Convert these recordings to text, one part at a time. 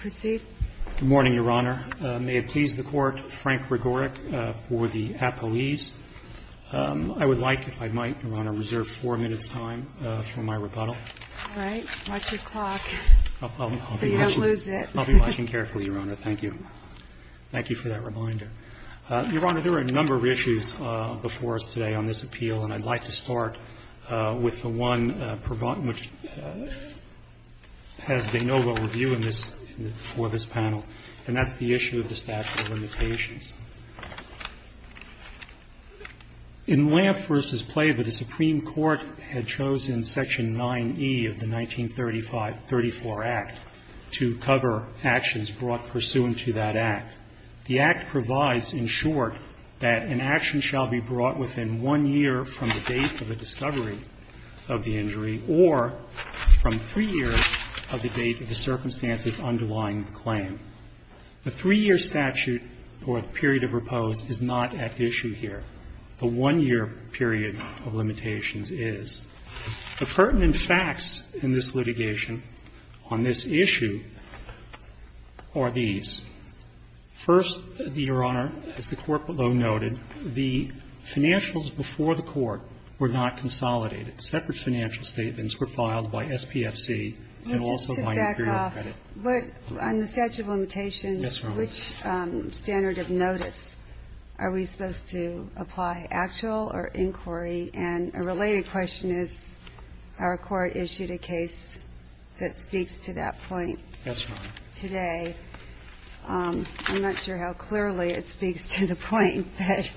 Good morning, Your Honor. May it please the Court, Frank Gregoric for the appellees. I would like, if I might, Your Honor, to reserve four minutes' time for my rebuttal. All right. Watch your clock so you don't lose it. I'll be watching carefully, Your Honor. Thank you. Thank you for that reminder. Your Honor, there are a number of issues before us today on this appeal, and I'd like to start with the one which has been for this panel, and that's the issue of the statute of limitations. In Lampf v. Plava, the Supreme Court had chosen Section 9E of the 1934 Act to cover actions brought pursuant to that Act. The Act provides, in short, that an action shall be brought within one year from the date of the discovery of the injury or from three years of the date of the circumstances underlying the claim. The three-year statute, or the period of repose, is not at issue here. The one-year period of limitations is. The pertinent facts in this litigation on this issue are these. First, Your Honor, as the Court below noted, the financials before the Court were not consolidated. Separate financial statements were filed by SPFC and also by Imperial Credit. But on the statute of limitations. Yes, Your Honor. Which standard of notice are we supposed to apply, actual or inquiry? And a related question is, our Court issued a case that speaks to that point. Yes, Your Honor. Today, I'm not sure how clearly it speaks to the point. But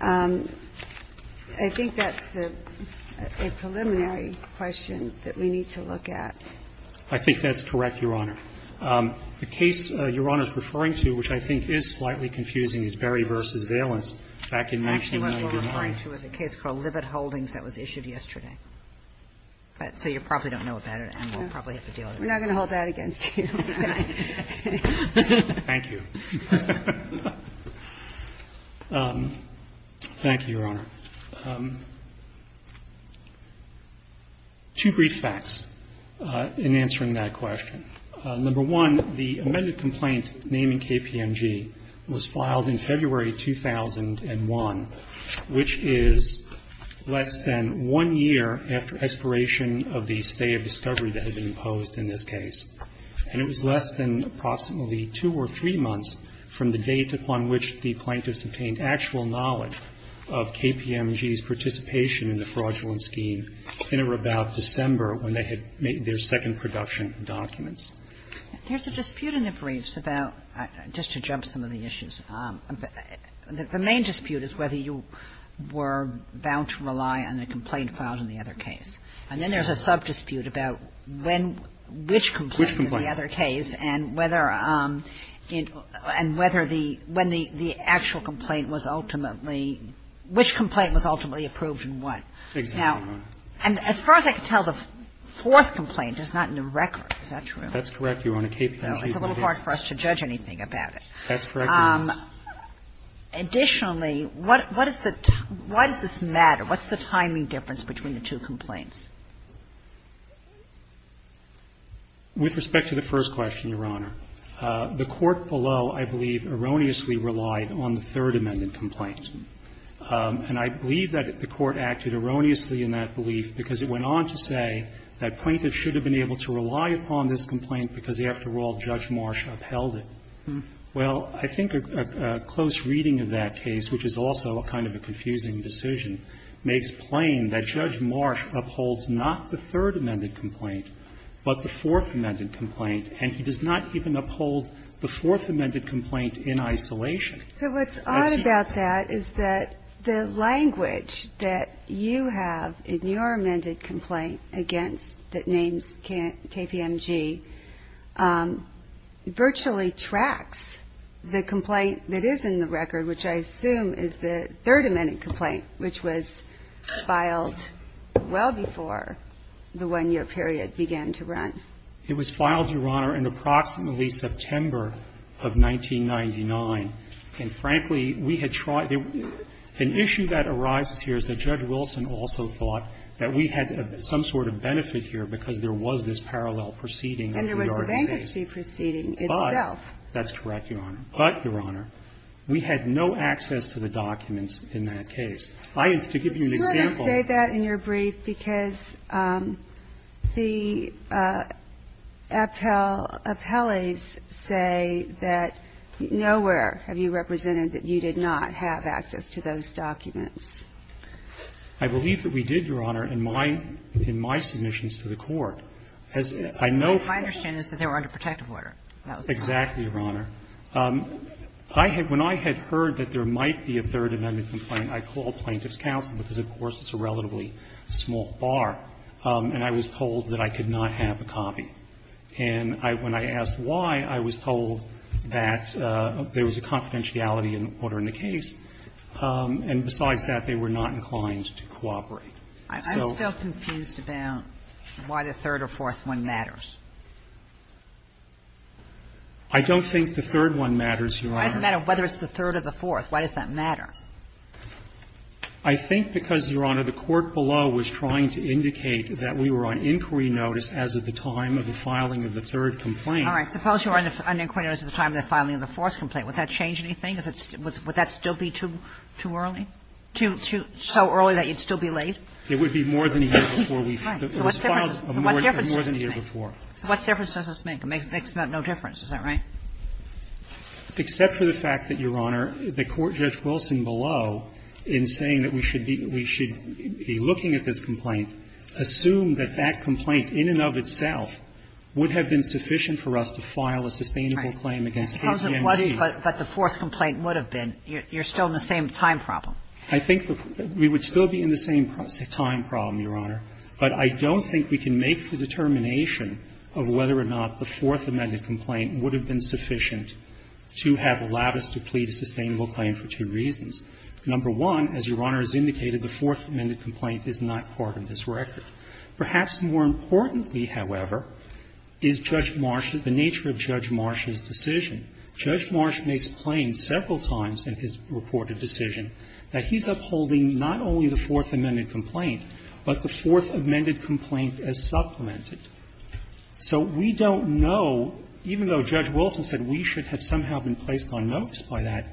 I think that's a preliminary question that we need to look at. I think that's correct, Your Honor. The case Your Honor is referring to, which I think is slightly confusing, is Berry v. Valens back in 1999. Actually, what we're referring to is a case called Libet Holdings that was issued yesterday. So you probably don't know about it, and we'll probably have to deal with it. We're not going to hold that against you. Thank you. Thank you, Your Honor. Two brief facts in answering that question. Number one, the amended complaint naming KPMG was filed in February 2001, which is less than one year after expiration of the stay of discovery that had been imposed in this case. And it was less than approximately two or three months from the date upon which the plaintiffs obtained actual knowledge of KPMG's participation in the fraudulent scheme in or about December when they had made their second production documents. There's a dispute in the briefs about, just to jump some of the issues, the main dispute is whether you were bound to rely on a complaint filed in the other case. And then there's a sub-dispute about when which complaint in the other case and whether it – and whether the – when the actual complaint was ultimately – which complaint was ultimately approved and what. Exactly, Your Honor. And as far as I can tell, the fourth complaint is not in the record. Is that true? That's correct, Your Honor. KPMG's not here. It's a little hard for us to judge anything about it. That's correct, Your Honor. Additionally, what is the – why does this matter? What's the timing difference between the two complaints? With respect to the first question, Your Honor, the Court below, I believe, erroneously relied on the Third Amendment complaint. And I believe that the Court acted erroneously in that belief because it went on to say that plaintiffs should have been able to rely upon this complaint because, after Well, I think a close reading of that case, which is also a kind of a confusing decision, makes plain that Judge Marsh upholds not the Third Amendment complaint but the Fourth Amendment complaint. And he does not even uphold the Fourth Amendment complaint in isolation. But what's odd about that is that the language that you have in your amended complaint against that names KPMG virtually tracks the complaint that is in the record, which I assume is the Third Amendment complaint, which was filed well before the one-year period began to run. It was filed, Your Honor, in approximately September of 1999. And, frankly, we had tried – an issue that arises here is that Judge Wilson also thought that we had some sort of benefit here because there was this parallel proceeding of the yarding case. And there was a bankruptcy proceeding itself. But – that's correct, Your Honor. But, Your Honor, we had no access to the documents in that case. I am – to give you an example – Would you let us say that in your brief? Because the appellees say that nowhere have you represented that you did not have access to those documents. I believe that we did, Your Honor, in my – in my submissions to the Court. As I know from – My understanding is that they were under protective order. Exactly, Your Honor. I had – when I had heard that there might be a Third Amendment complaint, I called Plaintiff's counsel because, of course, it's a relatively small bar. And I was told that I could not have a copy. And I – when I asked why, I was told that there was a confidentiality in the order in the case. And besides that, they were not inclined to cooperate. So – I'm still confused about why the third or fourth one matters. I don't think the third one matters, Your Honor. Why does it matter whether it's the third or the fourth? Why does that matter? I think because, Your Honor, the court below was trying to indicate that we were on inquiry notice as of the time of the filing of the third complaint. All right. Suppose you were on inquiry notice at the time of the filing of the fourth complaint. Would that change anything? Would that still be too early? Too – so early that you'd still be late? It would be more than a year before we – it was filed more than a year before. So what difference does this make? It makes about no difference. Is that right? Except for the fact that, Your Honor, the court, Judge Wilson below, in saying that we should be – we should be looking at this complaint, assumed that that complaint in and of itself would have been sufficient for us to file a sustainable claim against APMG. But the fourth complaint would have been. You're still in the same time problem. I think the – we would still be in the same time problem, Your Honor. But I don't think we can make the determination of whether or not the fourth amended complaint would have been sufficient to have allowed us to plead a sustainable claim for two reasons. Number one, as Your Honor has indicated, the fourth amended complaint is not part of this record. Perhaps more importantly, however, is Judge Marsha – the nature of Judge Marsha's decision, Judge Marsha makes plain several times in his reported decision that he's upholding not only the fourth amended complaint, but the fourth amended complaint as supplemented. So we don't know, even though Judge Wilson said we should have somehow been placed on notice by that,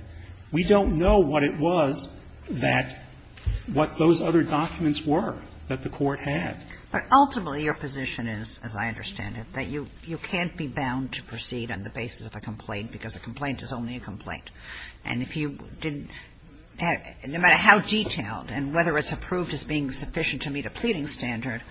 we don't know what it was that – what those other documents were that the court had. But ultimately, your position is, as I understand it, that you can't be bound to proceed on the basis of a complaint because a complaint is only a complaint. And if you didn't – no matter how detailed and whether it's approved as being sufficient to meet a pleading standard,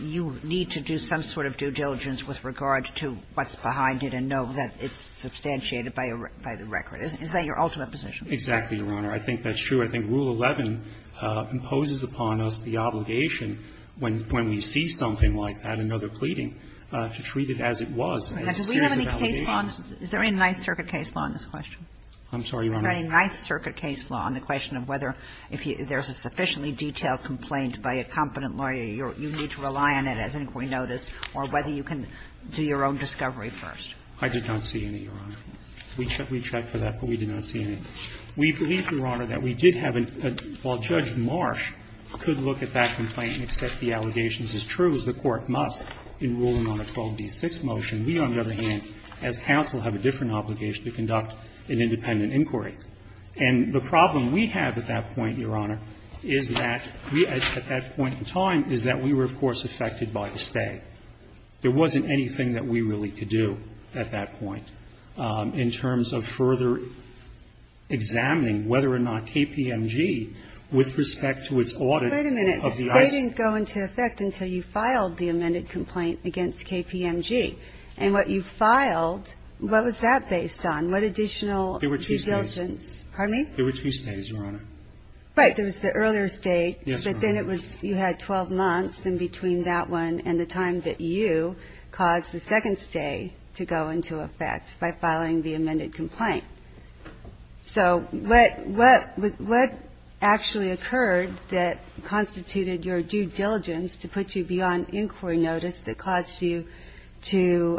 you need to do some sort of due diligence with regard to what's behind it and know that it's substantiated by the record. Is that your ultimate position? Exactly, Your Honor. I think that's true. I think Rule 11 imposes upon us the obligation when we see something like that, another pleading, to treat it as it was. And do we have any case law – is there any Ninth Circuit case law on this question? I'm sorry, Your Honor. Is there any Ninth Circuit case law on the question of whether if there's a sufficiently detailed complaint by a competent lawyer, you need to rely on it as inquiry notice, or whether you can do your own discovery first? I did not see any, Your Honor. We checked for that, but we did not see any. We believe, Your Honor, that we did have a – while Judge Marsh could look at that complaint and accept the allegations as true, as the court must in ruling on a 12b-6 motion, we, on the other hand, as counsel, have a different obligation to conduct an independent inquiry. And the problem we have at that point, Your Honor, is that we – at that point in time, is that we were, of course, affected by the State. There wasn't anything that we really could do at that point in terms of further examining whether or not KPMG, with respect to its audit of the ICE – Wait a minute. The State didn't go into effect until you filed the amended complaint against KPMG. And what you filed, what was that based on? What additional – There were two States. Pardon me? There were two States, Your Honor. Right. There was the earlier State, but then it was – you had 12 months in between that one and the time that you caused the second State to go into effect by filing the amended complaint. So what – what actually occurred that constituted your due diligence to put you beyond inquiry notice that caused you to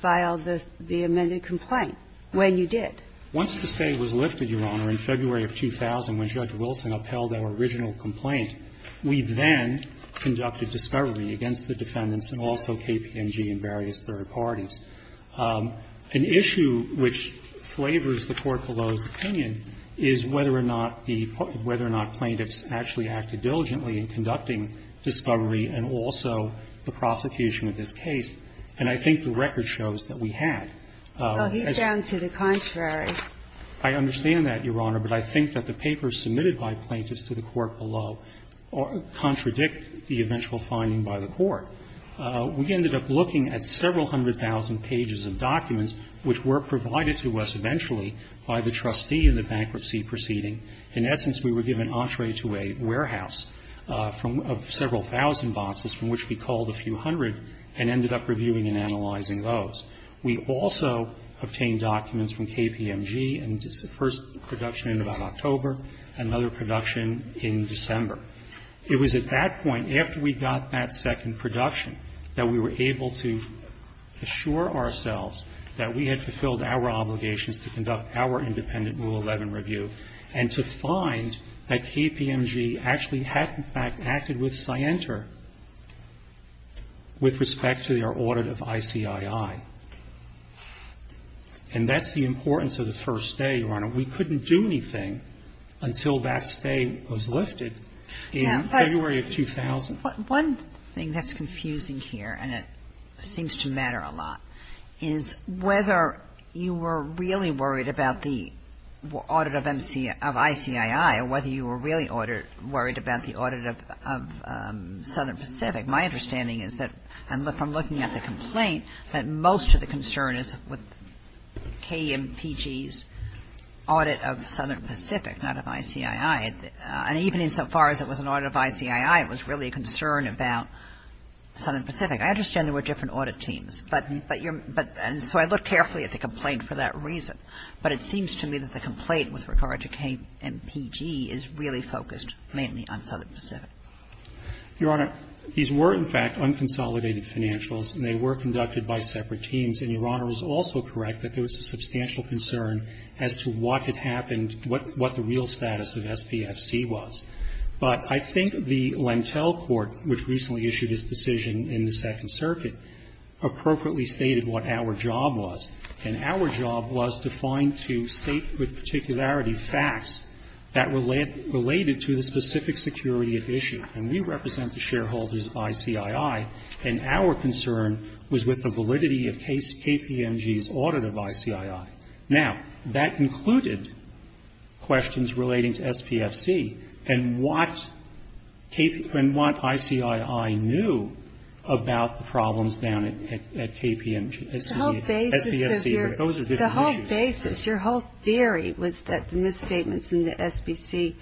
file the amended complaint when you did? Once the State was lifted, Your Honor, in February of 2000, when Judge Wilson upheld our original complaint, we then conducted discovery against the defendants and also KPMG and various third parties. An issue which flavors the Court below's opinion is whether or not the – whether or not plaintiffs actually acted diligently in conducting discovery and also the prosecution of this case. And I think the record shows that we had. Well, he's down to the contrary. I understand that, Your Honor, but I think that the papers submitted by plaintiffs to the Court below contradict the eventual finding by the Court. We ended up looking at several hundred thousand pages of documents which were provided to us eventually by the trustee in the bankruptcy proceeding. In essence, we were given entree to a warehouse from – of several thousand boxes, from which we called a few hundred, and ended up reviewing and analyzing those. We also obtained documents from KPMG, and it's the first production in about October, another production in December. It was at that point, after we got that second production, that we were able to assure ourselves that we had fulfilled our obligations to conduct our independent Rule 11 review and to find that KPMG actually had, in fact, acted with Scienter with respect to their audit of ICII. And that's the importance of the first day, Your Honor. We couldn't do anything until that stay was lifted in February of 2000. One thing that's confusing here, and it seems to matter a lot, is whether you were really worried about the audit of ICII or whether you were really worried about the audit of Southern Pacific. My understanding is that, from looking at the complaint, that most of the concern is with KMPG's audit of Southern Pacific, not of ICII. And even insofar as it was an audit of ICII, it was really a concern about Southern Pacific. I understand there were different audit teams, but you're – but – and so I look carefully at the complaint for that reason. But it seems to me that the complaint with regard to KMPG is really focused mainly on Southern Pacific. Your Honor, these were, in fact, unconsolidated financials, and they were conducted by separate teams. And Your Honor is also correct that there was a substantial concern as to what had happened, what the real status of SPFC was. But I think the Lentel Court, which recently issued its decision in the Second Circuit, appropriately stated what our job was. And our job was to find to state with particularity facts that related to the specific security at issue. And we represent the shareholders of ICII, and our concern was with the validity of KPMG's audit of ICII. Now, that included questions relating to SPFC and what KPMG – and what ICII knew about the problems down at KPMG – at SPFC, but those are different issues. The whole basis of your – the whole basis, your whole theory was that the misstatements in the SPFC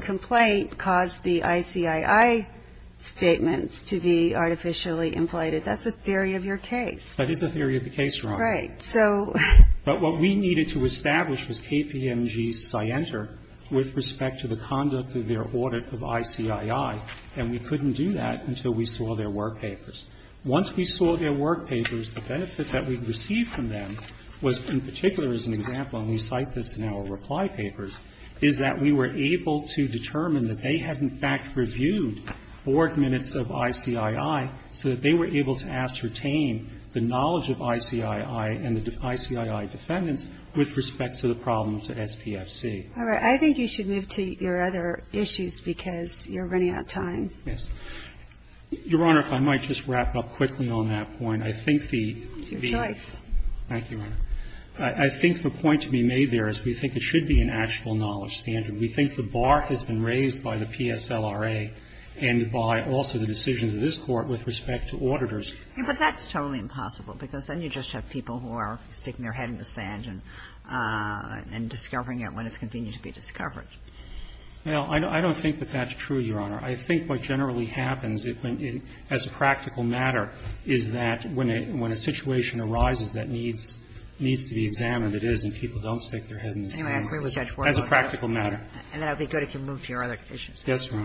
complaint caused the ICII statements to be artificially inflated. That's the theory of your case. That is the theory of the case, Your Honor. But what we needed to establish was KPMG's scienter with respect to the conduct of their audit of ICII, and we couldn't do that until we saw their work papers. Once we saw their work papers, the benefit that we'd received from them was, in particular, as an example, and we cite this in our reply papers, is that we were able to determine that they had, in fact, reviewed board minutes of ICII so that they were able to ascertain the knowledge of ICII and the ICII defendants with respect to the problems at SPFC. All right. I think you should move to your other issues because you're running out of time. Yes. Your Honor, if I might just wrap up quickly on that point. I think the – It's your choice. Thank you, Your Honor. I think the point to be made there is we think it should be an actual knowledge standard. We think the bar has been raised by the PSLRA and by also the decisions of this case. It has an effect on the public opinion, and it has an effect on the public opinion with respect to auditors. But that's totally impossible because then you just have people who are sticking their head in the sand and discovering it when it's continued to be discovered. I don't think that that's true, Your Honor. I think what generally happens as a practical matter is that when a situation arises that needs to be examined, it is, and people don't stick their head in the sand as a practical matter. And that would be good if you moved to your other issues. Yes, Your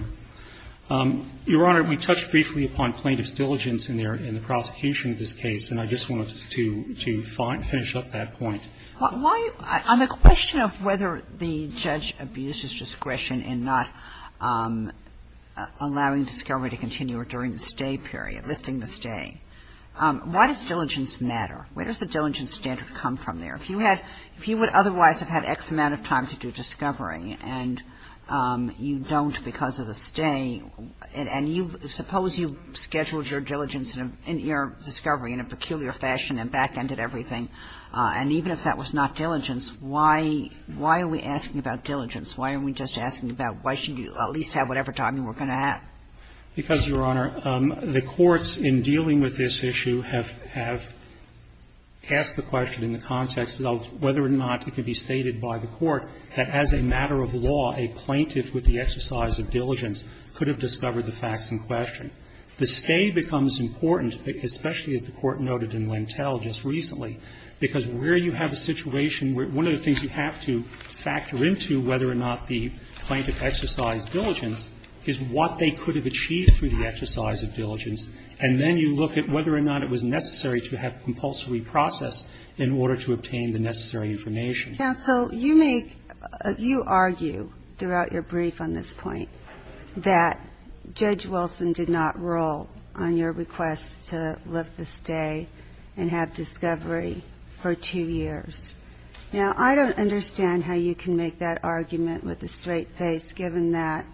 Honor. Your Honor, we touched briefly upon plaintiff's diligence in their – in the prosecution of this case, and I just wanted to finish up that point. Why – on the question of whether the judge abuses discretion in not allowing discovery to continue or during the stay period, lifting the stay, why does diligence matter? Where does the diligence standard come from there? If you had – if you would otherwise have had X amount of time to do discovery and you don't because of the stay, and you – suppose you scheduled your diligence in your discovery in a peculiar fashion and back-ended everything, and even if that was not diligence, why – why are we asking about diligence? Why are we just asking about why should you at least have whatever time you were going to have? Because, Your Honor, the courts in dealing with this issue have – have asked the question in the context of whether or not it could be stated by the court that as a matter of law, a plaintiff with the exercise of diligence could have discovered the facts in question. The stay becomes important, especially as the Court noted in Lentell just recently, because where you have a situation where – one of the things you have to factor into, whether or not the plaintiff exercised diligence, is what they could have achieved through the exercise of diligence. And then you look at whether or not it was necessary to have compulsory process in order to obtain the necessary information. Counsel, you make – you argue throughout your brief on this point that Judge KPMG was to be in the jury for two years. Now, I don't understand how you can make that argument with a straight face, given that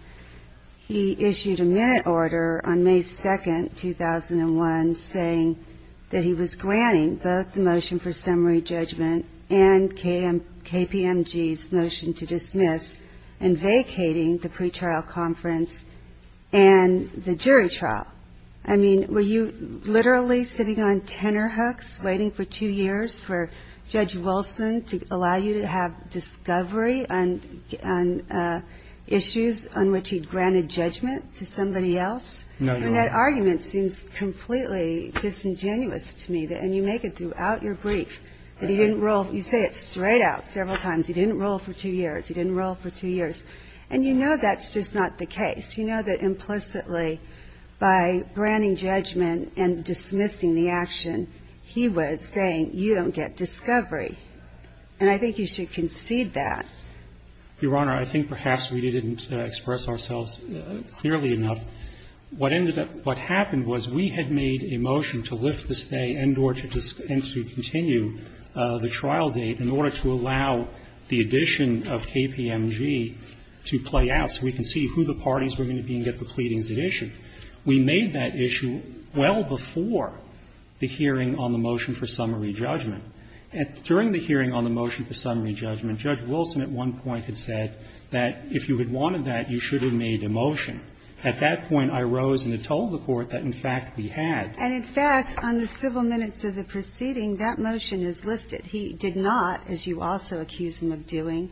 he issued a minute order on May 2, 2001, saying that he was granting both the motion for summary judgment and KPMG's motion to dismiss and vacating the pretrial conference and the jury trial. I mean, were you literally sitting on tenor hooks waiting for two years for Judge Wilson to allow you to have discovery on issues on which he'd granted judgment to somebody else? No, Your Honor. And that argument seems completely disingenuous to me. And you make it throughout your brief that he didn't rule – you say it straight out several times. He didn't rule for two years. He didn't rule for two years. And you know that's just not the case. You know that implicitly, by granting judgment and dismissing the action, he was saying, you don't get discovery. And I think you should concede that. Your Honor, I think perhaps we didn't express ourselves clearly enough. What ended up – what happened was we had made a motion to lift the stay and to continue the trial date in order to allow the addition of KPMG to play out so we can see who the parties were going to be and get the pleadings at issue. We made that issue well before the hearing on the motion for summary judgment. During the hearing on the motion for summary judgment, Judge Wilson at one point had said that if you had wanted that, you should have made a motion. At that point, I rose and had told the Court that, in fact, we had. And, in fact, on the civil minutes of the proceeding, that motion is listed. He did not, as you also accuse him of doing,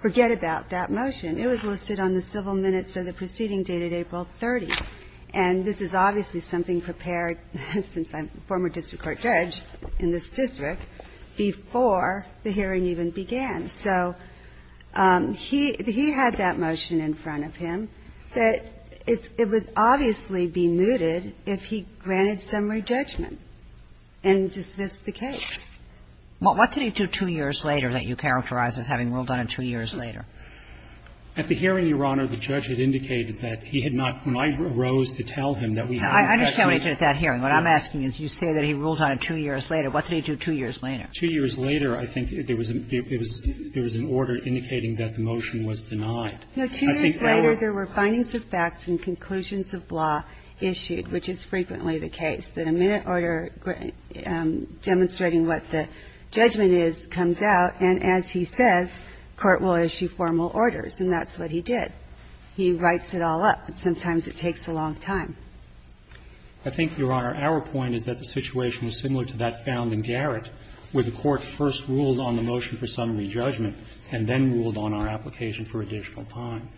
forget about that motion. It was listed on the civil minutes of the proceeding dated April 30th. And this is obviously something prepared since I'm a former district court judge in this district before the hearing even began. So he had that motion in front of him. But it would obviously be mooted if he granted summary judgment and dismissed the case. What did he do two years later that you characterize as having ruled on it two years later? At the hearing, Your Honor, the judge had indicated that he had not. When I rose to tell him that we had. I understand what he did at that hearing. What I'm asking is you say that he ruled on it two years later. What did he do two years later? Two years later, I think there was an order indicating that the motion was denied. No. Two years later, there were findings of facts and conclusions of law issued, which is frequently the case. That a minute order demonstrating what the judgment is comes out. And as he says, court will issue formal orders. And that's what he did. He writes it all up. Sometimes it takes a long time. I think, Your Honor, our point is that the situation was similar to that found in Garrett where the court first ruled on the motion for summary judgment and then ruled on our application for additional time.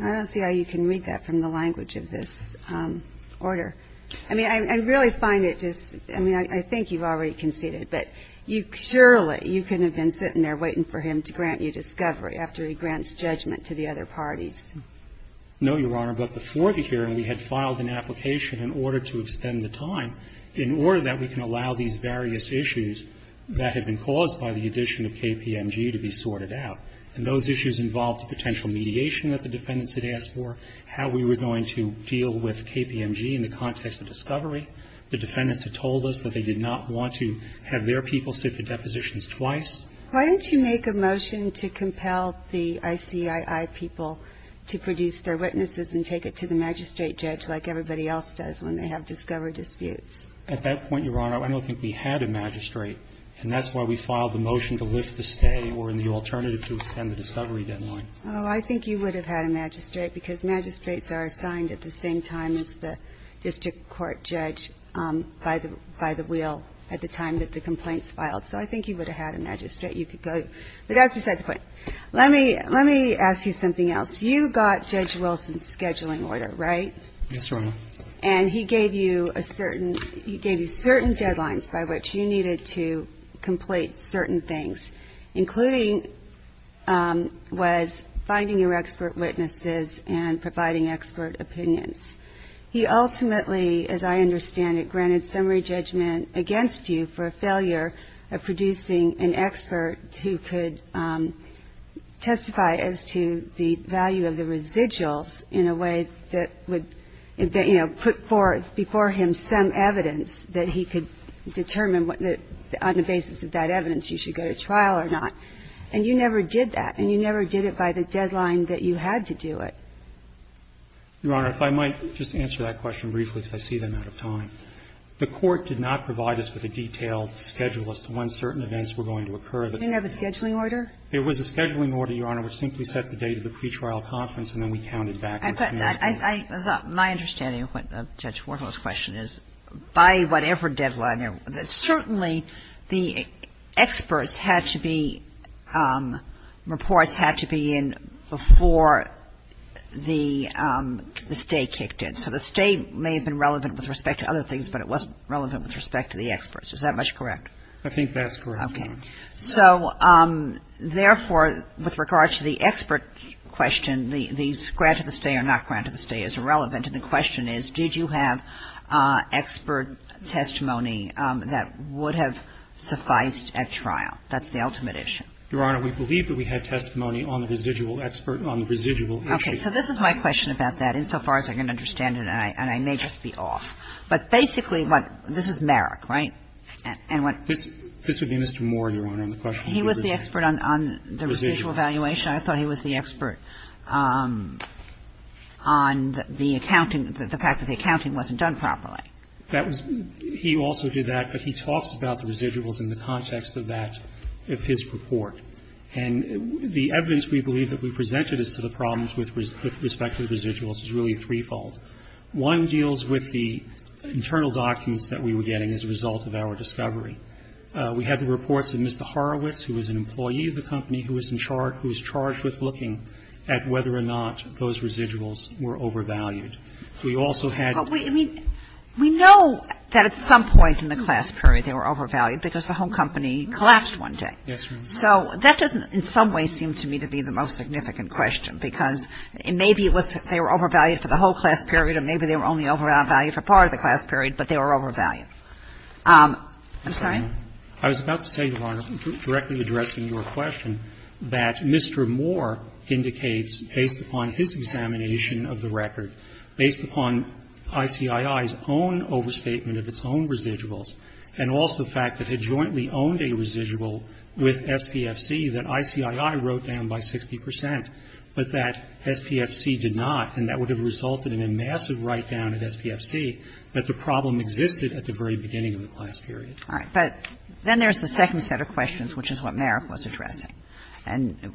I don't see how you can read that from the language of this order. I mean, I really find it just, I mean, I think you've already conceded. But you surely, you couldn't have been sitting there waiting for him to grant you discovery after he grants judgment to the other parties. No, Your Honor. But before the hearing, we had filed an application in order to extend the time, in order that we can allow these various issues that had been caused by the addition of KPMG to be sorted out. And those issues involved the potential mediation that the defendants had asked for, how we were going to deal with KPMG in the context of discovery. The defendants had told us that they did not want to have their people sit for depositions twice. Why didn't you make a motion to compel the ICII people to produce their witnesses and take it to the magistrate judge like everybody else does when they have discovery disputes? At that point, Your Honor, I don't think we had a magistrate. And that's why we filed the motion to lift the stay or the alternative to extend the discovery deadline. Oh, I think you would have had a magistrate because magistrates are assigned at the same time as the district court judge by the wheel at the time that the complaints filed. So I think you would have had a magistrate. You could go. But that's beside the point. Let me ask you something else. You got Judge Wilson's scheduling order, right? Yes, Your Honor. And he gave you a certain – he gave you certain deadlines by which you needed to find your expert witnesses and providing expert opinions. He ultimately, as I understand it, granted summary judgment against you for a failure of producing an expert who could testify as to the value of the residuals in a way that would, you know, put before him some evidence that he could determine on the basis of that evidence you should go to trial or not. And you never did that. And you never did it by the deadline that you had to do it. Your Honor, if I might just answer that question briefly because I see that I'm out of time. The court did not provide us with a detailed schedule as to when certain events were going to occur. You didn't have a scheduling order? There was a scheduling order, Your Honor, which simply set the date of the pre-trial conference and then we counted back. My understanding of Judge Warhol's question is by whatever deadline. Certainly the experts had to be, reports had to be in before the stay kicked in. So the stay may have been relevant with respect to other things, but it wasn't relevant with respect to the experts. Is that much correct? I think that's correct. Okay. So therefore, with regard to the expert question, the grant of the stay or not grant of the stay is irrelevant and the question is did you have expert testimony that would have sufficed at trial? That's the ultimate issue. Your Honor, we believe that we had testimony on the residual expert on the residual issue. Okay. So this is my question about that insofar as I can understand it and I may just be off. But basically, this is Merrick, right? This would be Mr. Moore, Your Honor. He was the expert on the residual evaluation. I thought he was the expert on the accounting, the fact that the accounting wasn't done properly. That was he also did that, but he talks about the residuals in the context of that of his report. And the evidence we believe that we presented as to the problems with respect to the residuals is really threefold. One deals with the internal documents that we were getting as a result of our discovery. We had the reports of Mr. Horowitz, who was an employee of the company, who was charged with looking at whether or not those residuals were overvalued. We also had... But we know that at some point in the class period they were overvalued because the whole company collapsed one day. Yes, Your Honor. So that doesn't in some way seem to me to be the most significant question because maybe they were overvalued for the whole class period or maybe they were only overvalued for part of the class period, but they were overvalued. I'm sorry? I was about to say, Your Honor, directly addressing your question, that Mr. Moore indicates based upon his examination of the record, based upon ICII's own overstatement of its own residuals and also the fact that it jointly owned a residual with SPFC that ICII wrote down by 60 percent, but that SPFC did not and that would have resulted in a massive write-down at SPFC that the problem existed at the very beginning of the class period. All right. But then there's the second set of questions, which is what Merrick was addressing,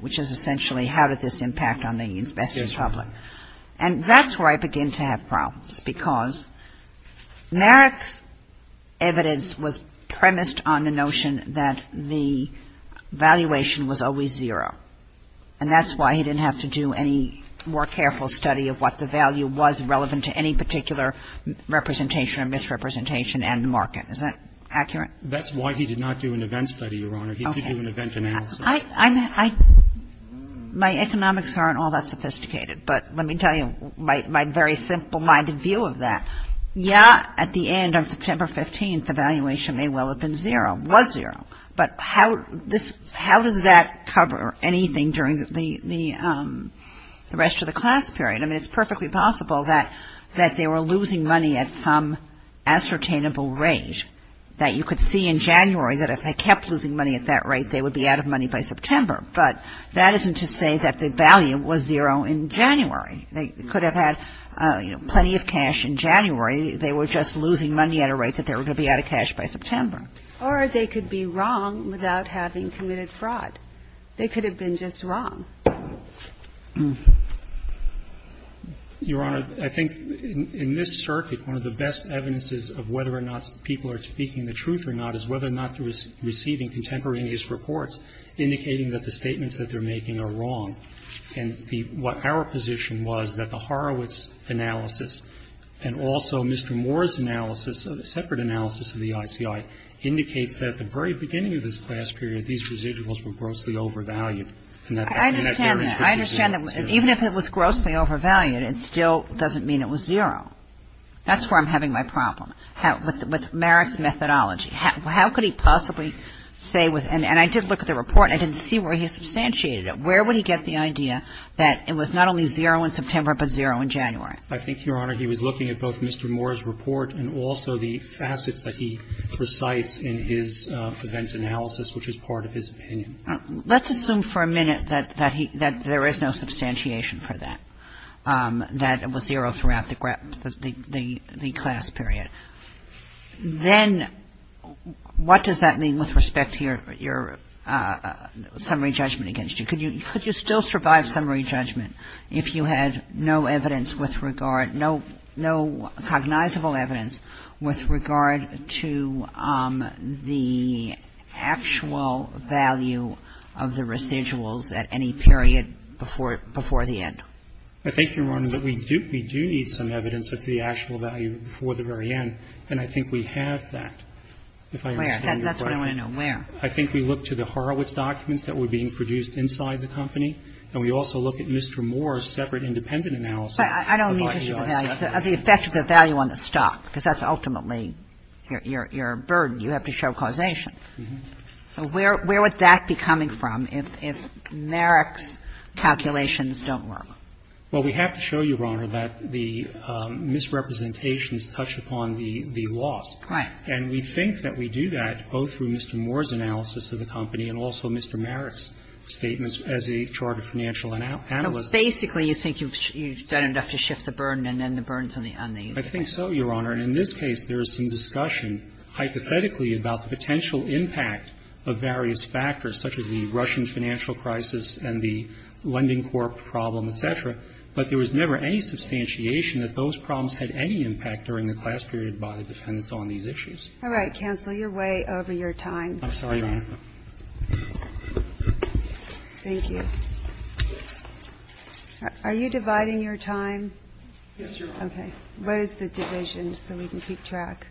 which is essentially how did this impact on the investor's public. Yes, Your Honor. And that's where I begin to have problems because Merrick's evidence was premised on the notion that the valuation was always zero and that's why he didn't have to do any more careful study of what the value was relevant to any particular representation or misrepresentation and market. Is that accurate? That's why he did not do an event study, Your Honor. He did do an event analysis. Okay. My economics aren't all that sophisticated, but let me tell you my very simple-minded view of that. Yes, at the end of September 15th, the valuation may well have been zero, was zero, but how does that cover anything during the rest of the class period? I mean, it's perfectly possible that they were losing money at some ascertainable rate that you could see in January that if they kept losing money at that rate, they would be out of money by September. But that isn't to say that the value was zero in January. They could have had plenty of cash in January. They were just losing money at a rate that they were going to be out of cash by September. Or they could be wrong without having committed fraud. They could have been just wrong. Your Honor, I think in this circuit, one of the best evidences of whether or not people are speaking the truth or not is whether or not they're receiving contemporaneous reports indicating that the statements that they're making are wrong. And the what our position was that the Horowitz analysis and also Mr. Moore's separate analysis of the ICI indicates that at the very beginning of this class period, these residuals were grossly overvalued. I understand that. I understand that. Even if it was grossly overvalued, it still doesn't mean it was zero. That's where I'm having my problem, with Merrick's methodology. How could he possibly say with – and I did look at the report and I didn't see where he substantiated it. Where would he get the idea that it was not only zero in September but zero in January? I think, Your Honor, he was looking at both Mr. Moore's report and also the facets that he recites in his event analysis, which is part of his opinion. Let's assume for a minute that there is no substantiation for that, that it was zero throughout the class period. Then what does that mean with respect to your summary judgment against you? Could you still survive summary judgment if you had no evidence with regard – no cognizable evidence with regard to the actual value of the residuals at any period before the end? I think, Your Honor, that we do need some evidence of the actual value before the very end. And I think we have that, if I understand your question. Where? That's what I want to know. Where? I think we look to the Horowitz documents that were being produced inside the company and we also look at Mr. Moore's separate independent analysis. But I don't mean just the value. The effect of the value on the stock, because that's ultimately your burden. You have to show causation. So where would that be coming from if Merrick's calculations don't work? Well, we have to show you, Your Honor, that the misrepresentations touch upon the loss. Right. And we think that we do that both through Mr. Moore's analysis of the company and also Mr. Merrick's statements as a charter financial analyst. So basically you think you've done enough to shift the burden and then the burden is on the other side. I think so, Your Honor. And in this case, there is some discussion, hypothetically, about the potential impact of various factors, such as the Russian financial crisis and the lending corp problem, et cetera. But there was never any substantiation that those problems had any impact during the class period by the defense on these issues. All right. Cancel your way over your time. I'm sorry, Your Honor. Thank you. Are you dividing your time? Yes, Your Honor. Okay. What is the division so we can keep track?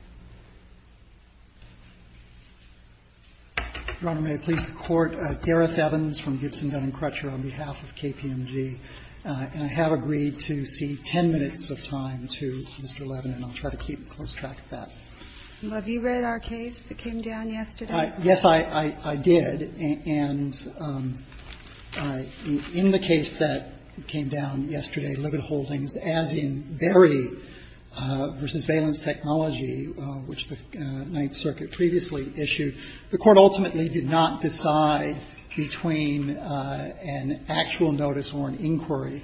Your Honor, may I please the Court? Gareth Evans from Gibson, Dun & Crutcher on behalf of KPMG. And I have agreed to cede 10 minutes of time to Mr. Levin, and I'll try to keep a close track of that. Well, have you read our case that came down yesterday? Yes, I did. And in the case that came down yesterday, Libet Holdings, as in Berry v. Valence Technology, which the Ninth Circuit previously issued, the Court ultimately did not decide between an actual notice or an inquiry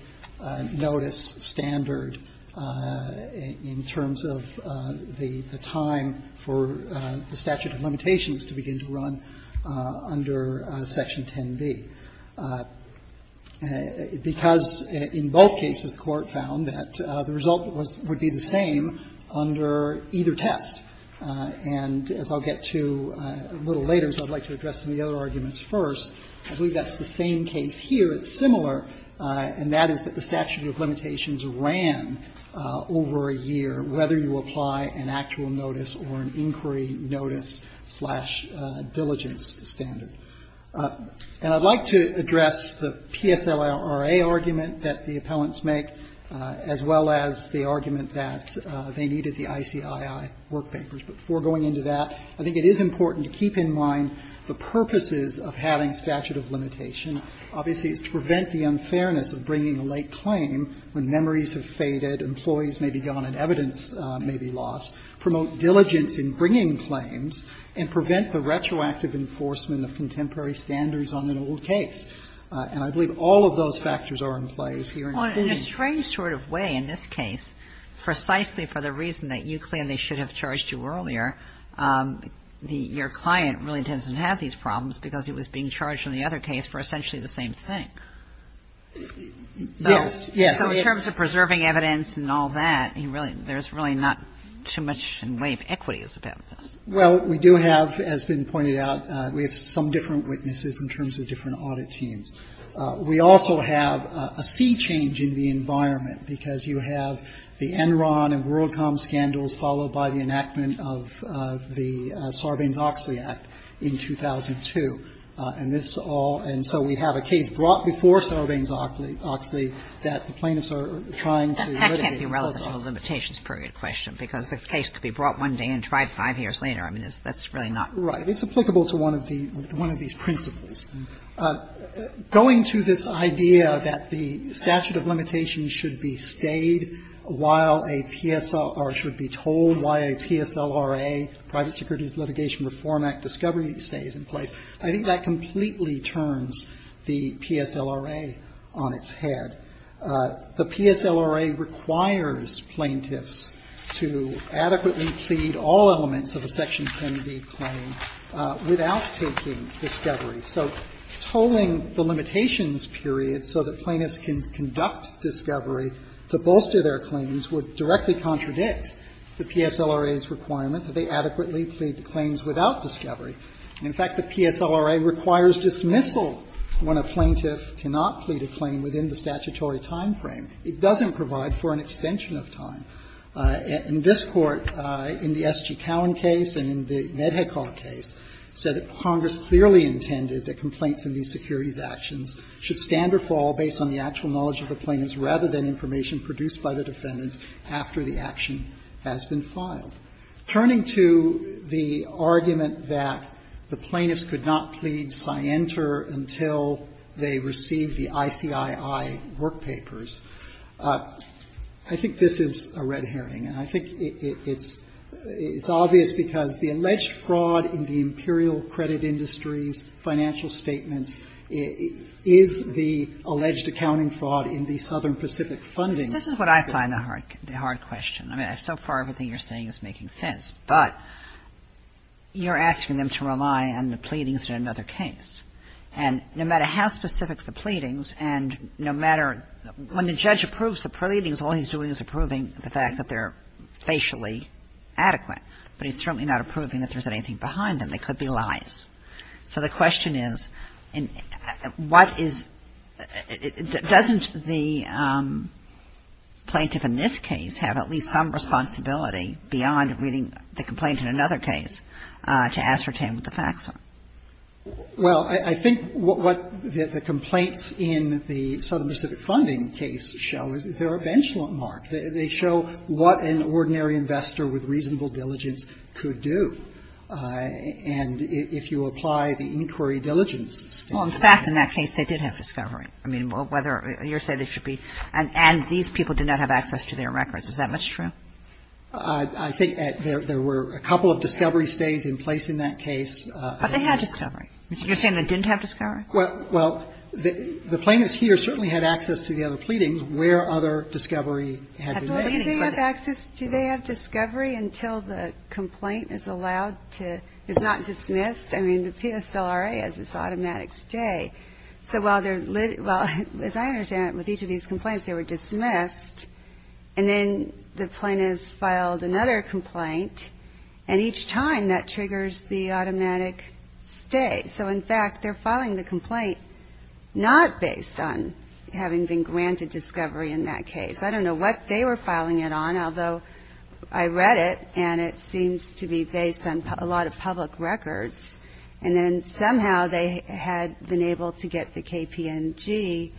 notice standard in terms of the time for the statute of limitations to begin to run under Section 10b, because in both cases the Court found that the result would be the same under either test. And as I'll get to a little later, as I'd like to address some of the other arguments first, I believe that's the same case here. It's similar, and that is that the statute of limitations ran over a year, whether you apply an actual notice or an inquiry notice-slash-diligence standard. And I'd like to address the PSLRA argument that the appellants make, as well as the ICII work papers. Before going into that, I think it is important to keep in mind the purposes of having statute of limitation. Obviously, it's to prevent the unfairness of bringing a late claim when memories have faded, employees may be gone, and evidence may be lost, promote diligence in bringing claims, and prevent the retroactive enforcement of contemporary standards on an old case. And I believe all of those factors are in play here in this case. And in a strange sort of way, in this case, precisely for the reason that you claim they should have charged you earlier, your client really doesn't have these problems because he was being charged in the other case for essentially the same thing. Yes. So in terms of preserving evidence and all that, there's really not too much in way of equity that's about this. Well, we do have, as has been pointed out, we have some different witnesses in terms of different audit teams. We also have a sea change in the environment, because you have the Enron and World Com scandals, followed by the enactment of the Sarbanes-Oxley Act in 2002. And this all – and so we have a case brought before Sarbanes-Oxley that the plaintiffs are trying to litigate. That can't be relevant to the limitations period question, because the case could be brought one day and tried five years later. I mean, that's really not. Right. It's applicable to one of the – one of these principles. Going to this idea that the statute of limitations should be stayed while a PSL – or should be told why a PSLRA, Private Securities Litigation Reform Act, discovery stays in place, I think that completely turns the PSLRA on its head. The PSLRA requires plaintiffs to adequately plead all elements of a Section 20B claim without taking discovery. So tolling the limitations period so that plaintiffs can conduct discovery to bolster their claims would directly contradict the PSLRA's requirement that they adequately plead the claims without discovery. In fact, the PSLRA requires dismissal when a plaintiff cannot plead a claim within the statutory timeframe. It doesn't provide for an extension of time. In this Court, in the S.G. that complaints in these securities actions should stand or fall based on the actual knowledge of the plaintiffs rather than information produced by the defendants after the action has been filed. Turning to the argument that the plaintiffs could not plead scienter until they received the ICII work papers, I think this is a red herring. And I think it's – it's obvious because the alleged fraud in the imperial credit industries, financial statements, is the alleged accounting fraud in the Southern Pacific funding. This is what I find the hard question. I mean, so far everything you're saying is making sense. But you're asking them to rely on the pleadings in another case. And no matter how specific the pleadings and no matter – when the judge approves the pleadings, all he's doing is approving the fact that they're facially adequate. But he's certainly not approving that there's anything behind them. They could be lies. So the question is, what is – doesn't the plaintiff in this case have at least some responsibility beyond reading the complaint in another case to ascertain what the facts are? Well, I think what the complaints in the Southern Pacific funding case show is they're a benchmark. They show what an ordinary investor with reasonable diligence could do. And if you apply the inquiry diligence statement – Well, in fact, in that case, they did have discovery. I mean, whether – you're saying they should be – and these people did not have access to their records. Is that much true? I think there were a couple of discovery stays in place in that case. But they had discovery. You're saying they didn't have discovery? Well, the plaintiffs here certainly had access to the other pleadings where other discovery had been made. Well, do they have access – do they have discovery until the complaint is allowed to – is not dismissed? I mean, the PSLRA has this automatic stay. So while they're – well, as I understand it, with each of these complaints, they were dismissed. And then the plaintiffs filed another complaint. And each time, that triggers the automatic stay. So in fact, they're filing the complaint not based on having been granted discovery in that case. I don't know what they were filing it on, although I read it, and it seems to be based on a lot of public records. And then somehow, they had been able to get the KPNG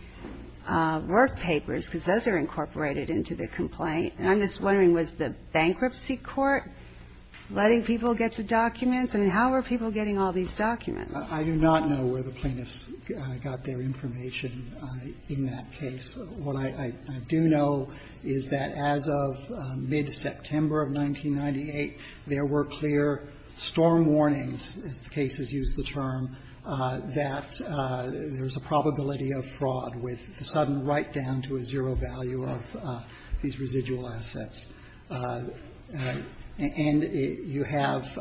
work papers, because those are incorporated into the complaint. And I'm just wondering, was the bankruptcy court letting people get the documents? I mean, how were people getting all these documents? I do not know where the plaintiffs got their information in that case. What I do know is that as of mid-September of 1998, there were clear storm warnings, as the cases use the term, that there's a probability of fraud with the sudden write-down to a zero value of these residual assets. And you have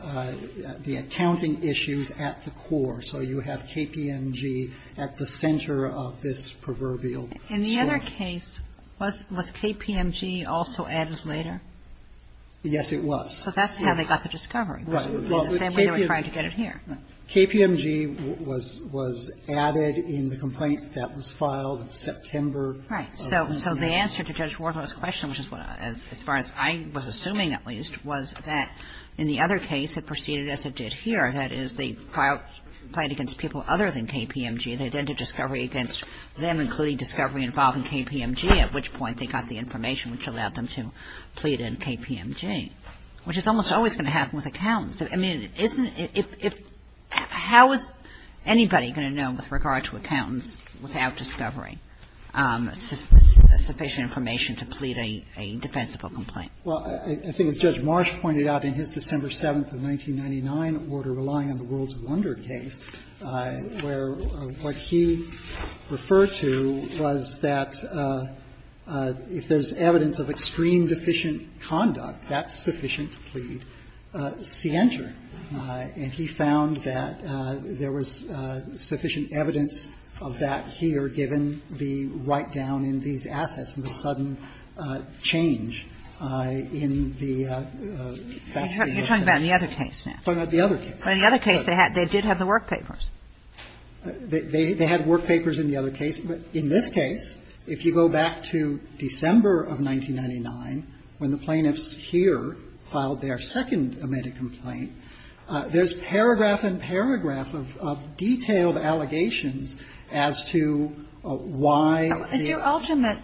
the accounting issues at the core. So you have KPNG at the center of this proverbial story. In the other case, was KPNG also added later? Yes, it was. So that's how they got the discovery. The same way they were trying to get it here. KPNG was added in the complaint that was filed in September. Right. So the answer to Judge Wardwell's question, which is as far as I was assuming at least, was that in the other case, it proceeded as it did here. That is, they filed a complaint against people other than KPNG. They did a discovery against them, including discovery involving KPNG, at which point they got the information which allowed them to plead in KPNG, which is almost always going to happen with accountants. I mean, isn't it – how is anybody going to know with regard to accountants without discovery sufficient information to plead a defensible complaint? Well, I think as Judge Marsh pointed out in his December 7th of 1999 order relying on the World's Wonder case, where what he referred to was that if there's evidence of extreme deficient conduct, that's sufficient to plead scienter. And he found that there was sufficient evidence of that here, given the write-down in these assets and the sudden change in the fact that the other case. You're talking about the other case now. The other case. But in the other case, they did have the work papers. They had work papers in the other case. But in this case, if you go back to December of 1999, when the plaintiffs here filed their second amended complaint, there's paragraph and paragraph of detailed allegations as to why the – Is your ultimate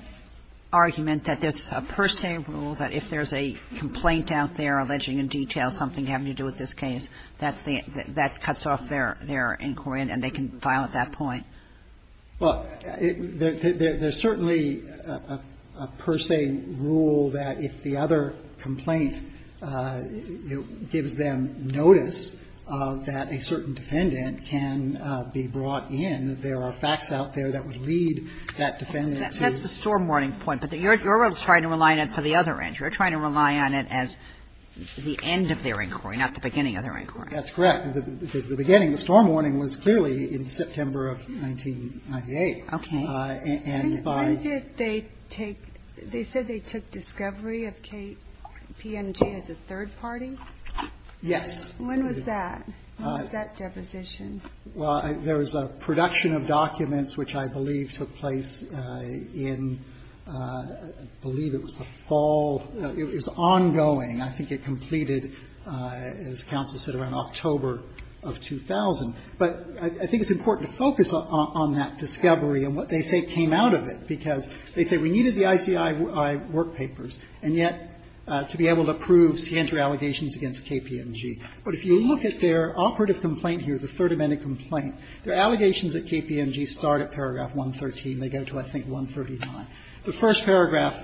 argument that there's a per se rule that if there's a complaint out there alleging in detail something having to do with this case, that's the – that cuts off their inquiry and they can file at that point? Well, there's certainly a per se rule that if the other complaint gives them notice that a certain defendant can be brought in, that there are facts out there that would lead that defendant to – That's the storm warning point. But you're trying to rely on it for the other end. You're trying to rely on it as the end of their inquiry, not the beginning of their inquiry. That's correct. The beginning, the storm warning was clearly in September of 1998. Okay. And by – When did they take – they said they took discovery of KPNG as a third party? Yes. When was that? When was that deposition? Well, there was a production of documents which I believe took place in – I believe it was the fall – it was ongoing. I think it completed, as counsel said, around October of 2000. But I think it's important to focus on that discovery and what they say came out of it, because they say we needed the ICI work papers, and yet to be able to prove scienter allegations against KPNG. But if you look at their operative complaint here, the third amended complaint, their allegations at KPNG start at paragraph 113. They get to, I think, 139. The first paragraph,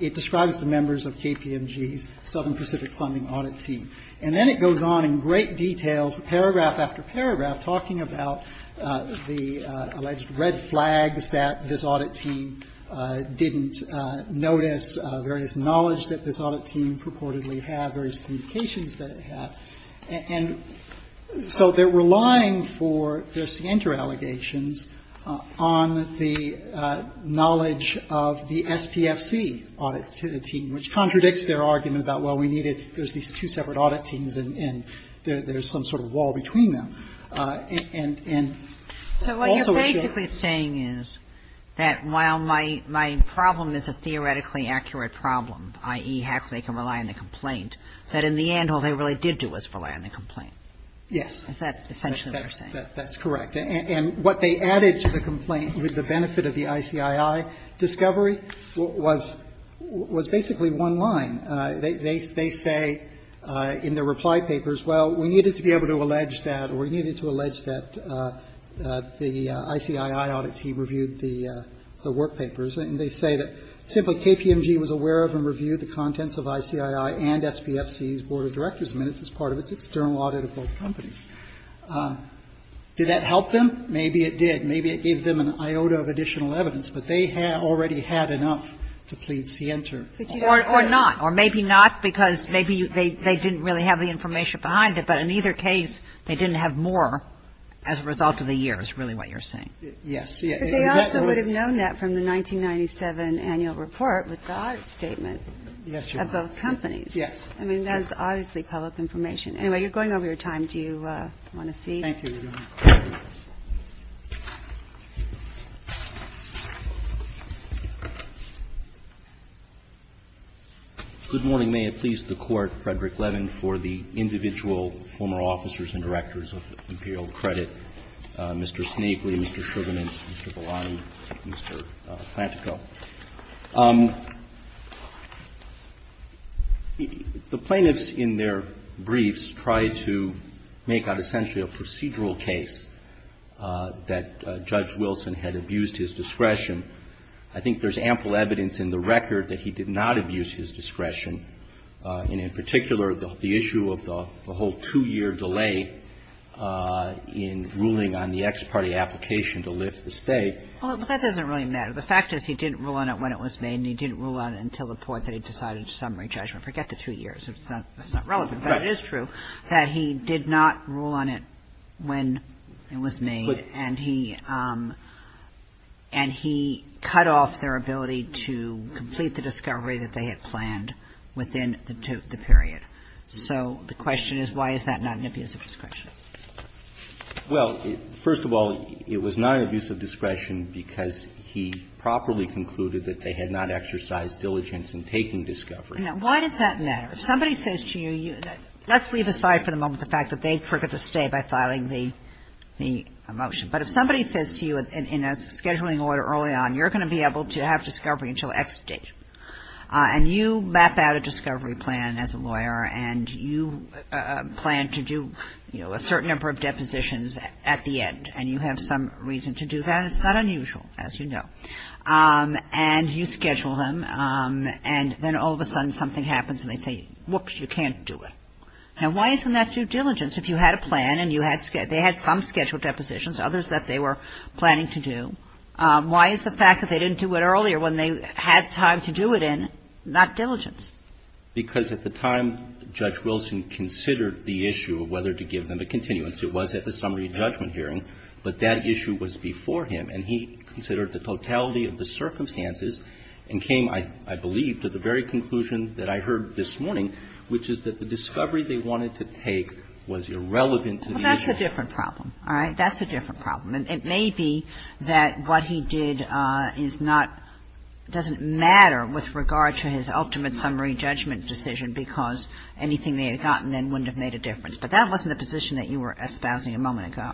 it describes the members of KPNG's Southern Pacific Funding audit team. And then it goes on in great detail, paragraph after paragraph, talking about the alleged red flags that this audit team didn't notice, various knowledge that this audit team purportedly had, various communications that it had. And so they're relying for their scienter allegations on the knowledge of the SPFC audit team, which contradicts their argument about, well, we needed – there's these two separate audit teams, and there's some sort of wall between them. And also – So what you're basically saying is that while my problem is a theoretically accurate problem, i.e., heck, they can rely on the complaint, that in the end all they really did do was rely on the complaint. Yes. Is that essentially what you're saying? That's correct. And what they added to the complaint with the benefit of the ICII discovery was basically one line. They say in their reply papers, well, we needed to be able to allege that or we needed to allege that the ICII audit team reviewed the workpapers. And they say that simply KPNG was aware of and reviewed the contents of ICII and SPFC's report of directors' minutes as part of its external audit of both companies. Did that help them? Maybe it did. Maybe it gave them an iota of additional evidence. But they already had enough to plead scienter. Or not. Or maybe not, because maybe they didn't really have the information behind it. But in either case, they didn't have more as a result of the years, really what you're saying. Yes. But they also would have known that from the 1997 annual report with the audit statement of both companies. Yes. I mean, that's obviously public information. Anyway, you're going over your time. Do you want to see? Thank you, Your Honor. Good morning. May it please the Court, Frederick Levin, for the individual former officers and directors of Imperial Credit, Mr. Snavely, Mr. Sugarman, Mr. Bolani, Mr. Plantico. The plaintiffs in their briefs tried to make out essentially a procedural case that Judge Wilson had abused his discretion. I think there's ample evidence in the record that he did not abuse his discretion, and in particular, the issue of the whole two-year delay in ruling on the ex parte application to lift the stay. Well, that doesn't really matter. The fact is he didn't rule on it when it was made, and he didn't rule on it until the point that he decided to summary judgment. Forget the two years. That's not relevant. But it is true that he did not rule on it when it was made, and he cut off their ability to complete the discovery that they had planned within the period. So the question is why is that not an abuse of discretion? Well, first of all, it was not an abuse of discretion because he properly concluded that they had not exercised diligence in taking discovery. Now, why does that matter? If somebody says to you, let's leave aside for the moment the fact that they forget the stay by filing the motion. But if somebody says to you in a scheduling order early on, you're going to be able to have discovery until X date, and you map out a discovery plan as a lawyer, and you plan to do a certain number of depositions at the end, and you have some reason to do that, it's not unusual, as you know. And you schedule them, and then all of a sudden something happens and they say, whoops, you can't do it. Now, why isn't that due diligence? If you had a plan and they had some scheduled depositions, others that they were planning to do, why is the fact that they didn't do it earlier when they had time to do it in not diligence? Because at the time Judge Wilson considered the issue of whether to give them a continuance. It was at the summary judgment hearing, but that issue was before him. And he considered the totality of the circumstances and came, I believe, to the very conclusion that I heard this morning, which is that the discovery they wanted to take was irrelevant to the issue. Well, that's a different problem. All right? That's a different problem. And it may be that what he did is not, doesn't matter with regard to his ultimate summary judgment decision because anything they had gotten then wouldn't have made a difference. But that wasn't the position that you were espousing a moment ago.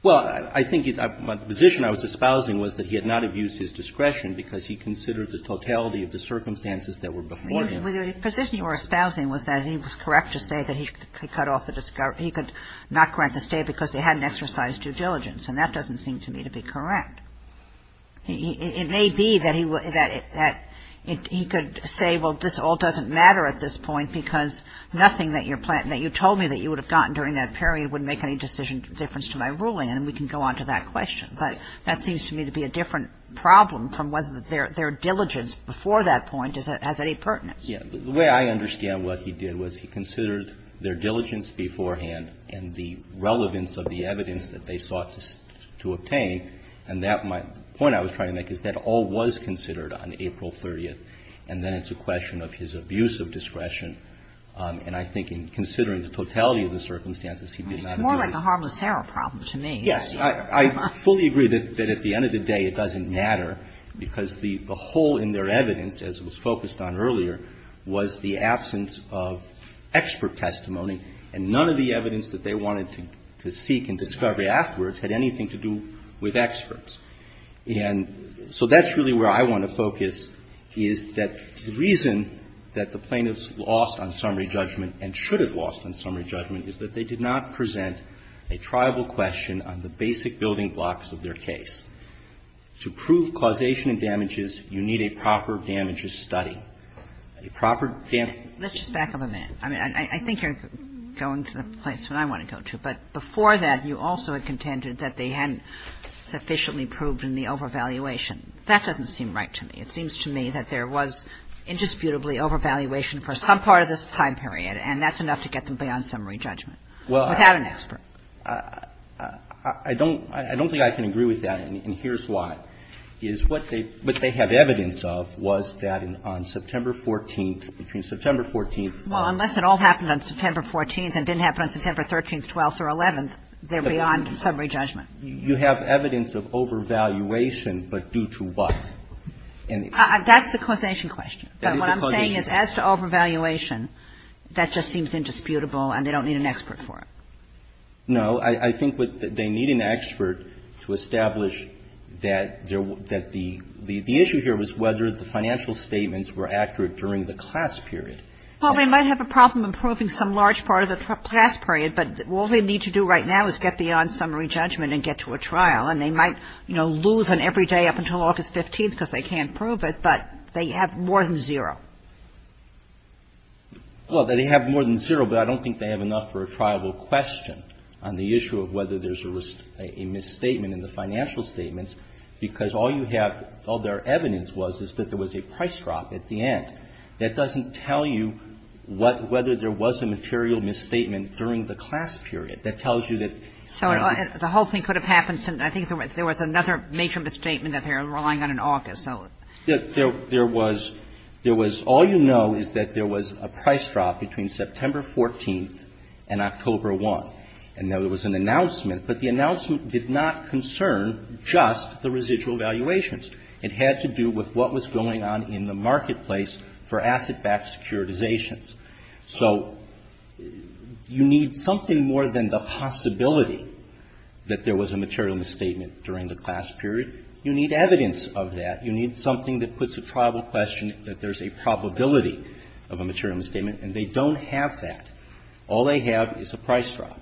Well, I think the position I was espousing was that he had not abused his discretion because he considered the totality of the circumstances that were before him. The position you were espousing was that he was correct to say that he could cut off the discovery, he could not grant the stay because they hadn't exercised due diligence. And that doesn't seem to me to be correct. It may be that he could say, well, this all doesn't matter at this point because nothing that you told me that you would have gotten during that period wouldn't make any decision difference to my ruling. And we can go on to that question. But that seems to me to be a different problem from whether their diligence before that point has any pertinence. Yeah. The way I understand what he did was he considered their diligence beforehand and the relevance of the evidence that they sought to obtain. And that might be the point I was trying to make is that all was considered on April 30th. And then it's a question of his abuse of discretion. And I think in considering the totality of the circumstances, he did not abuse. It's more like a harmless error problem to me. Yes. I fully agree that at the end of the day it doesn't matter because the hole in their case that I mentioned earlier was the absence of expert testimony. And none of the evidence that they wanted to seek in discovery afterwards had anything to do with experts. And so that's really where I want to focus is that the reason that the plaintiffs lost on summary judgment and should have lost on summary judgment is that they did not present a triable question on the basic building blocks of their case. To prove causation and damages, you need a proper damages study. A proper damages study. Let's just back up a minute. I mean, I think you're going to the place that I want to go to. But before that, you also had contended that they hadn't sufficiently proved in the overvaluation. That doesn't seem right to me. It seems to me that there was indisputably overvaluation for some part of this time period. And that's enough to get them beyond summary judgment without an expert. I don't think I can agree with that. And here's why. Is what they have evidence of was that on September 14th, between September 14th and 12th. Well, unless it all happened on September 14th and didn't happen on September 13th, 12th or 11th, they're beyond summary judgment. You have evidence of overvaluation, but due to what? That's the causation question. That is the causation. But what I'm saying is as to overvaluation, that just seems indisputable and they need an expert to establish that the issue here was whether the financial statements were accurate during the class period. Well, they might have a problem in proving some large part of the class period, but all they need to do right now is get beyond summary judgment and get to a trial. And they might, you know, lose on every day up until August 15th because they can't prove it, but they have more than zero. Well, they have more than zero, but I don't think they have enough for a trial question. On the issue of whether there's a misstatement in the financial statements, because all you have, all their evidence was, is that there was a price drop at the end. That doesn't tell you what, whether there was a material misstatement during the class period. That tells you that, you know. So the whole thing could have happened, I think there was another major misstatement that they were relying on in August, so. There was, there was, all you know is that there was a price drop between September 14th and October 1. And there was an announcement, but the announcement did not concern just the residual valuations. It had to do with what was going on in the marketplace for asset-backed securitizations. So you need something more than the possibility that there was a material misstatement during the class period. You need evidence of that. You need something that puts a trial question that there's a probability of a material misstatement, and they don't have that. All they have is a price drop.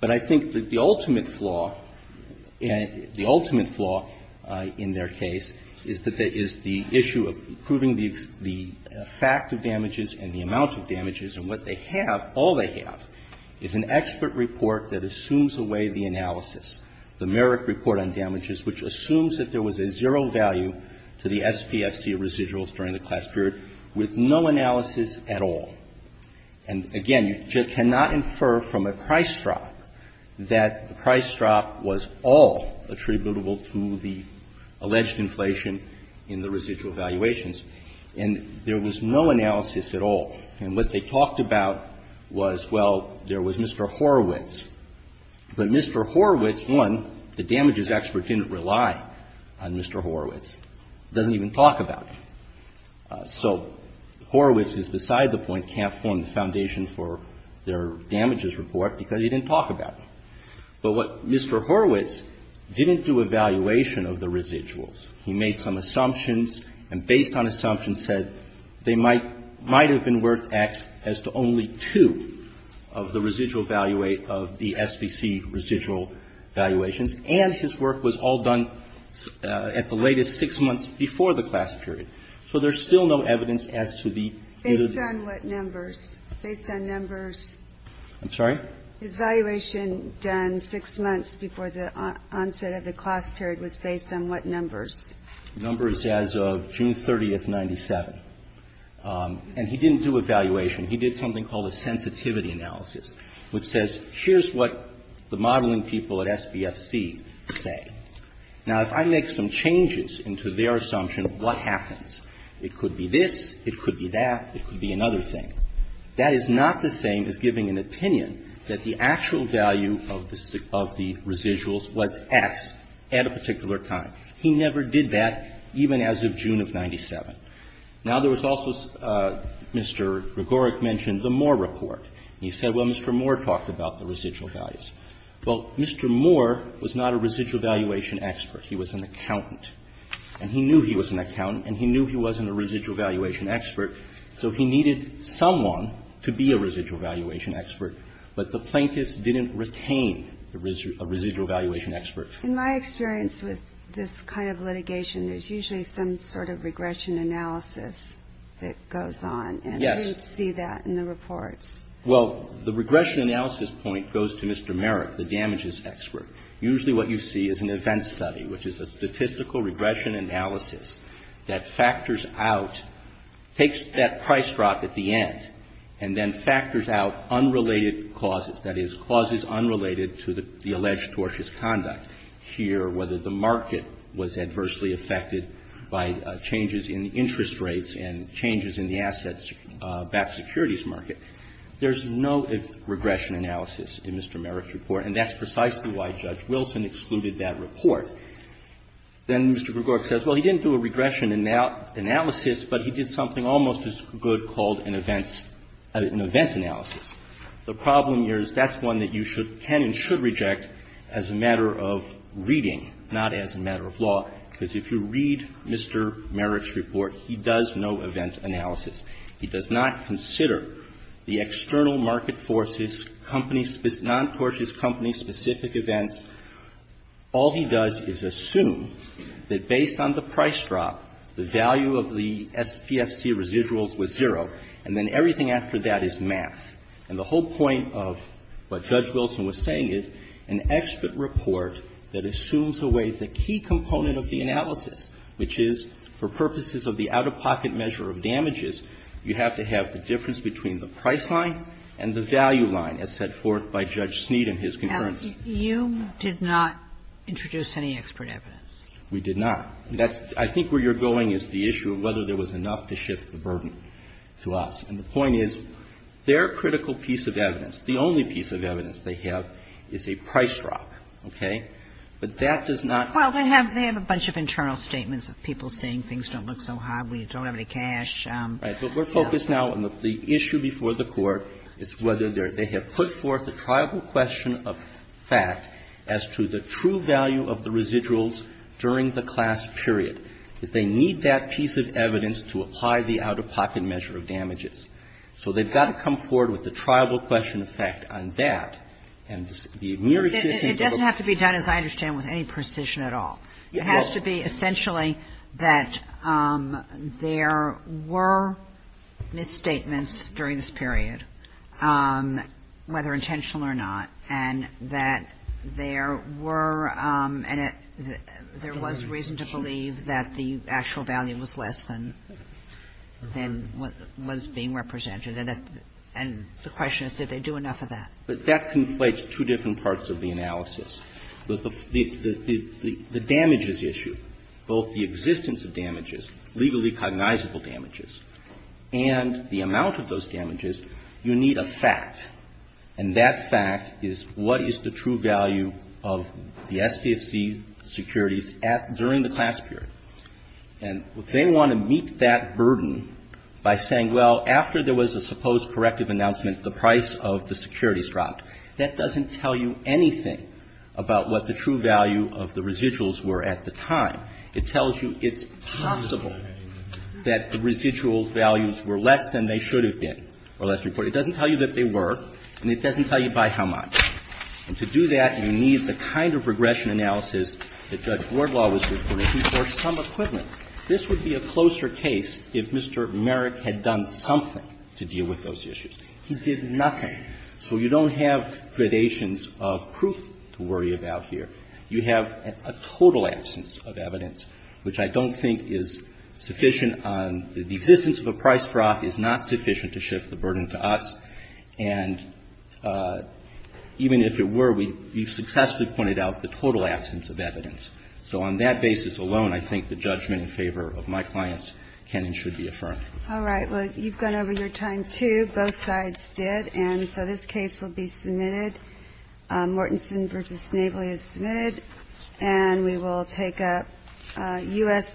But I think that the ultimate flaw, the ultimate flaw in their case is that there is the issue of proving the fact of damages and the amount of damages. And what they have, all they have, is an expert report that assumes away the analysis, the Merrick report on damages, which assumes that there was a zero value to the SPFC residuals during the class period with no analysis at all. And, again, you cannot infer from a price drop that the price drop was all attributable to the alleged inflation in the residual valuations. And there was no analysis at all. And what they talked about was, well, there was Mr. Horowitz. But Mr. Horowitz, one, the damages expert didn't rely on Mr. Horowitz. Doesn't even talk about him. So Horowitz is beside the point, can't form the foundation for their damages report because he didn't talk about him. But what Mr. Horowitz didn't do a valuation of the residuals. He made some assumptions, and based on assumptions said they might have been worth X as to only two of the residual value of the SPFC residual valuations. And his work was all done at the latest six months before the class period. So there's still no evidence as to the. Based on what numbers? Based on numbers. I'm sorry? His valuation done six months before the onset of the class period was based on what numbers? Numbers as of June 30, 1997. And he didn't do a valuation. He did something called a sensitivity analysis, which says, here's what the modeling people at SPFC say. Now, if I make some changes into their assumption, what happens? It could be this. It could be that. It could be another thing. That is not the same as giving an opinion that the actual value of the residuals was X at a particular time. He never did that, even as of June of 1997. Now, there was also, Mr. Gregoric mentioned the Moore report. He said, well, Mr. Moore talked about the residual values. Well, Mr. Moore was not a residual valuation expert. He was an accountant. And he knew he was an accountant, and he knew he wasn't a residual valuation expert. So he needed someone to be a residual valuation expert, but the plaintiffs didn't retain a residual valuation expert. In my experience with this kind of litigation, there's usually some sort of regression analysis that goes on. Yes. And we see that in the reports. Well, the regression analysis point goes to Mr. Merrick, the damages expert. Usually what you see is an event study, which is a statistical regression analysis that factors out, takes that price drop at the end, and then factors out unrelated clauses, that is, clauses unrelated to the alleged tortious conduct here, whether the market was adversely affected by changes in interest rates and changes in the assets-backed securities market. There's no regression analysis in Mr. Merrick's report, and that's precisely why Judge Wilson excluded that report. Then Mr. Gregoric says, well, he didn't do a regression analysis, but he did something almost as good called an events – an event analysis. The problem here is that's one that you should – can and should reject as a matter of reading, not as a matter of law, because if you read Mr. Merrick's report, he does no event analysis. He does not consider the external market forces, companies – non-tortious companies, specific events. All he does is assume that based on the price drop, the value of the SPFC residuals was zero, and then everything after that is math. And the whole point of what Judge Wilson was saying is an expert report that assumes away the key component of the analysis, which is for purposes of the out-of-pocket measure of damages, you have to have the difference between the price line and the value line, as set forth by Judge Sneed in his concurrence. Kagan. You did not introduce any expert evidence. We did not. That's – I think where you're going is the issue of whether there was enough to shift the burden to us. And the point is their critical piece of evidence, the only piece of evidence they have is a price drop. Okay? But that does not – Well, they have a bunch of internal statements of people saying things don't look so hot, we don't have any cash. Right. But we're focused now on the issue before the Court is whether they have put forth a triable question of fact as to the true value of the residuals during the class period, because they need that piece of evidence to apply the out-of-pocket measure of damages. So they've got to come forward with a triable question of fact on that. And the mere existence of a – It doesn't have to be done, as I understand, with any precision at all. It has to be essentially that there were misstatements during this period, whether intentional or not, and that there were – and there was reason to believe that the And the question is, did they do enough of that? But that conflates two different parts of the analysis. The damages issue, both the existence of damages, legally cognizable damages, and the amount of those damages, you need a fact. And that fact is what is the true value of the SPFC securities during the class period. And if they want to meet that burden by saying, well, after there was a supposed corrective announcement, the price of the securities dropped, that doesn't tell you anything about what the true value of the residuals were at the time. It tells you it's possible that the residual values were less than they should have been, or less reported. It doesn't tell you that they were, and it doesn't tell you by how much. And to do that, you need the kind of regression analysis that Judge Wardlaw was reporting for some equivalent. This would be a closer case if Mr. Merrick had done something to deal with those issues. He did nothing. So you don't have gradations of proof to worry about here. You have a total absence of evidence, which I don't think is sufficient on the existence of a price drop is not sufficient to shift the burden to us. And even if it were, we've successfully pointed out the total absence of evidence. So on that basis alone, I think the judgment in favor of my clients can and should be affirmed. All right. Well, you've gone over your time, too. Both sides did. And so this case will be submitted. Mortensen v. Snavely is submitted. And we will take up U.S. v. Snavely.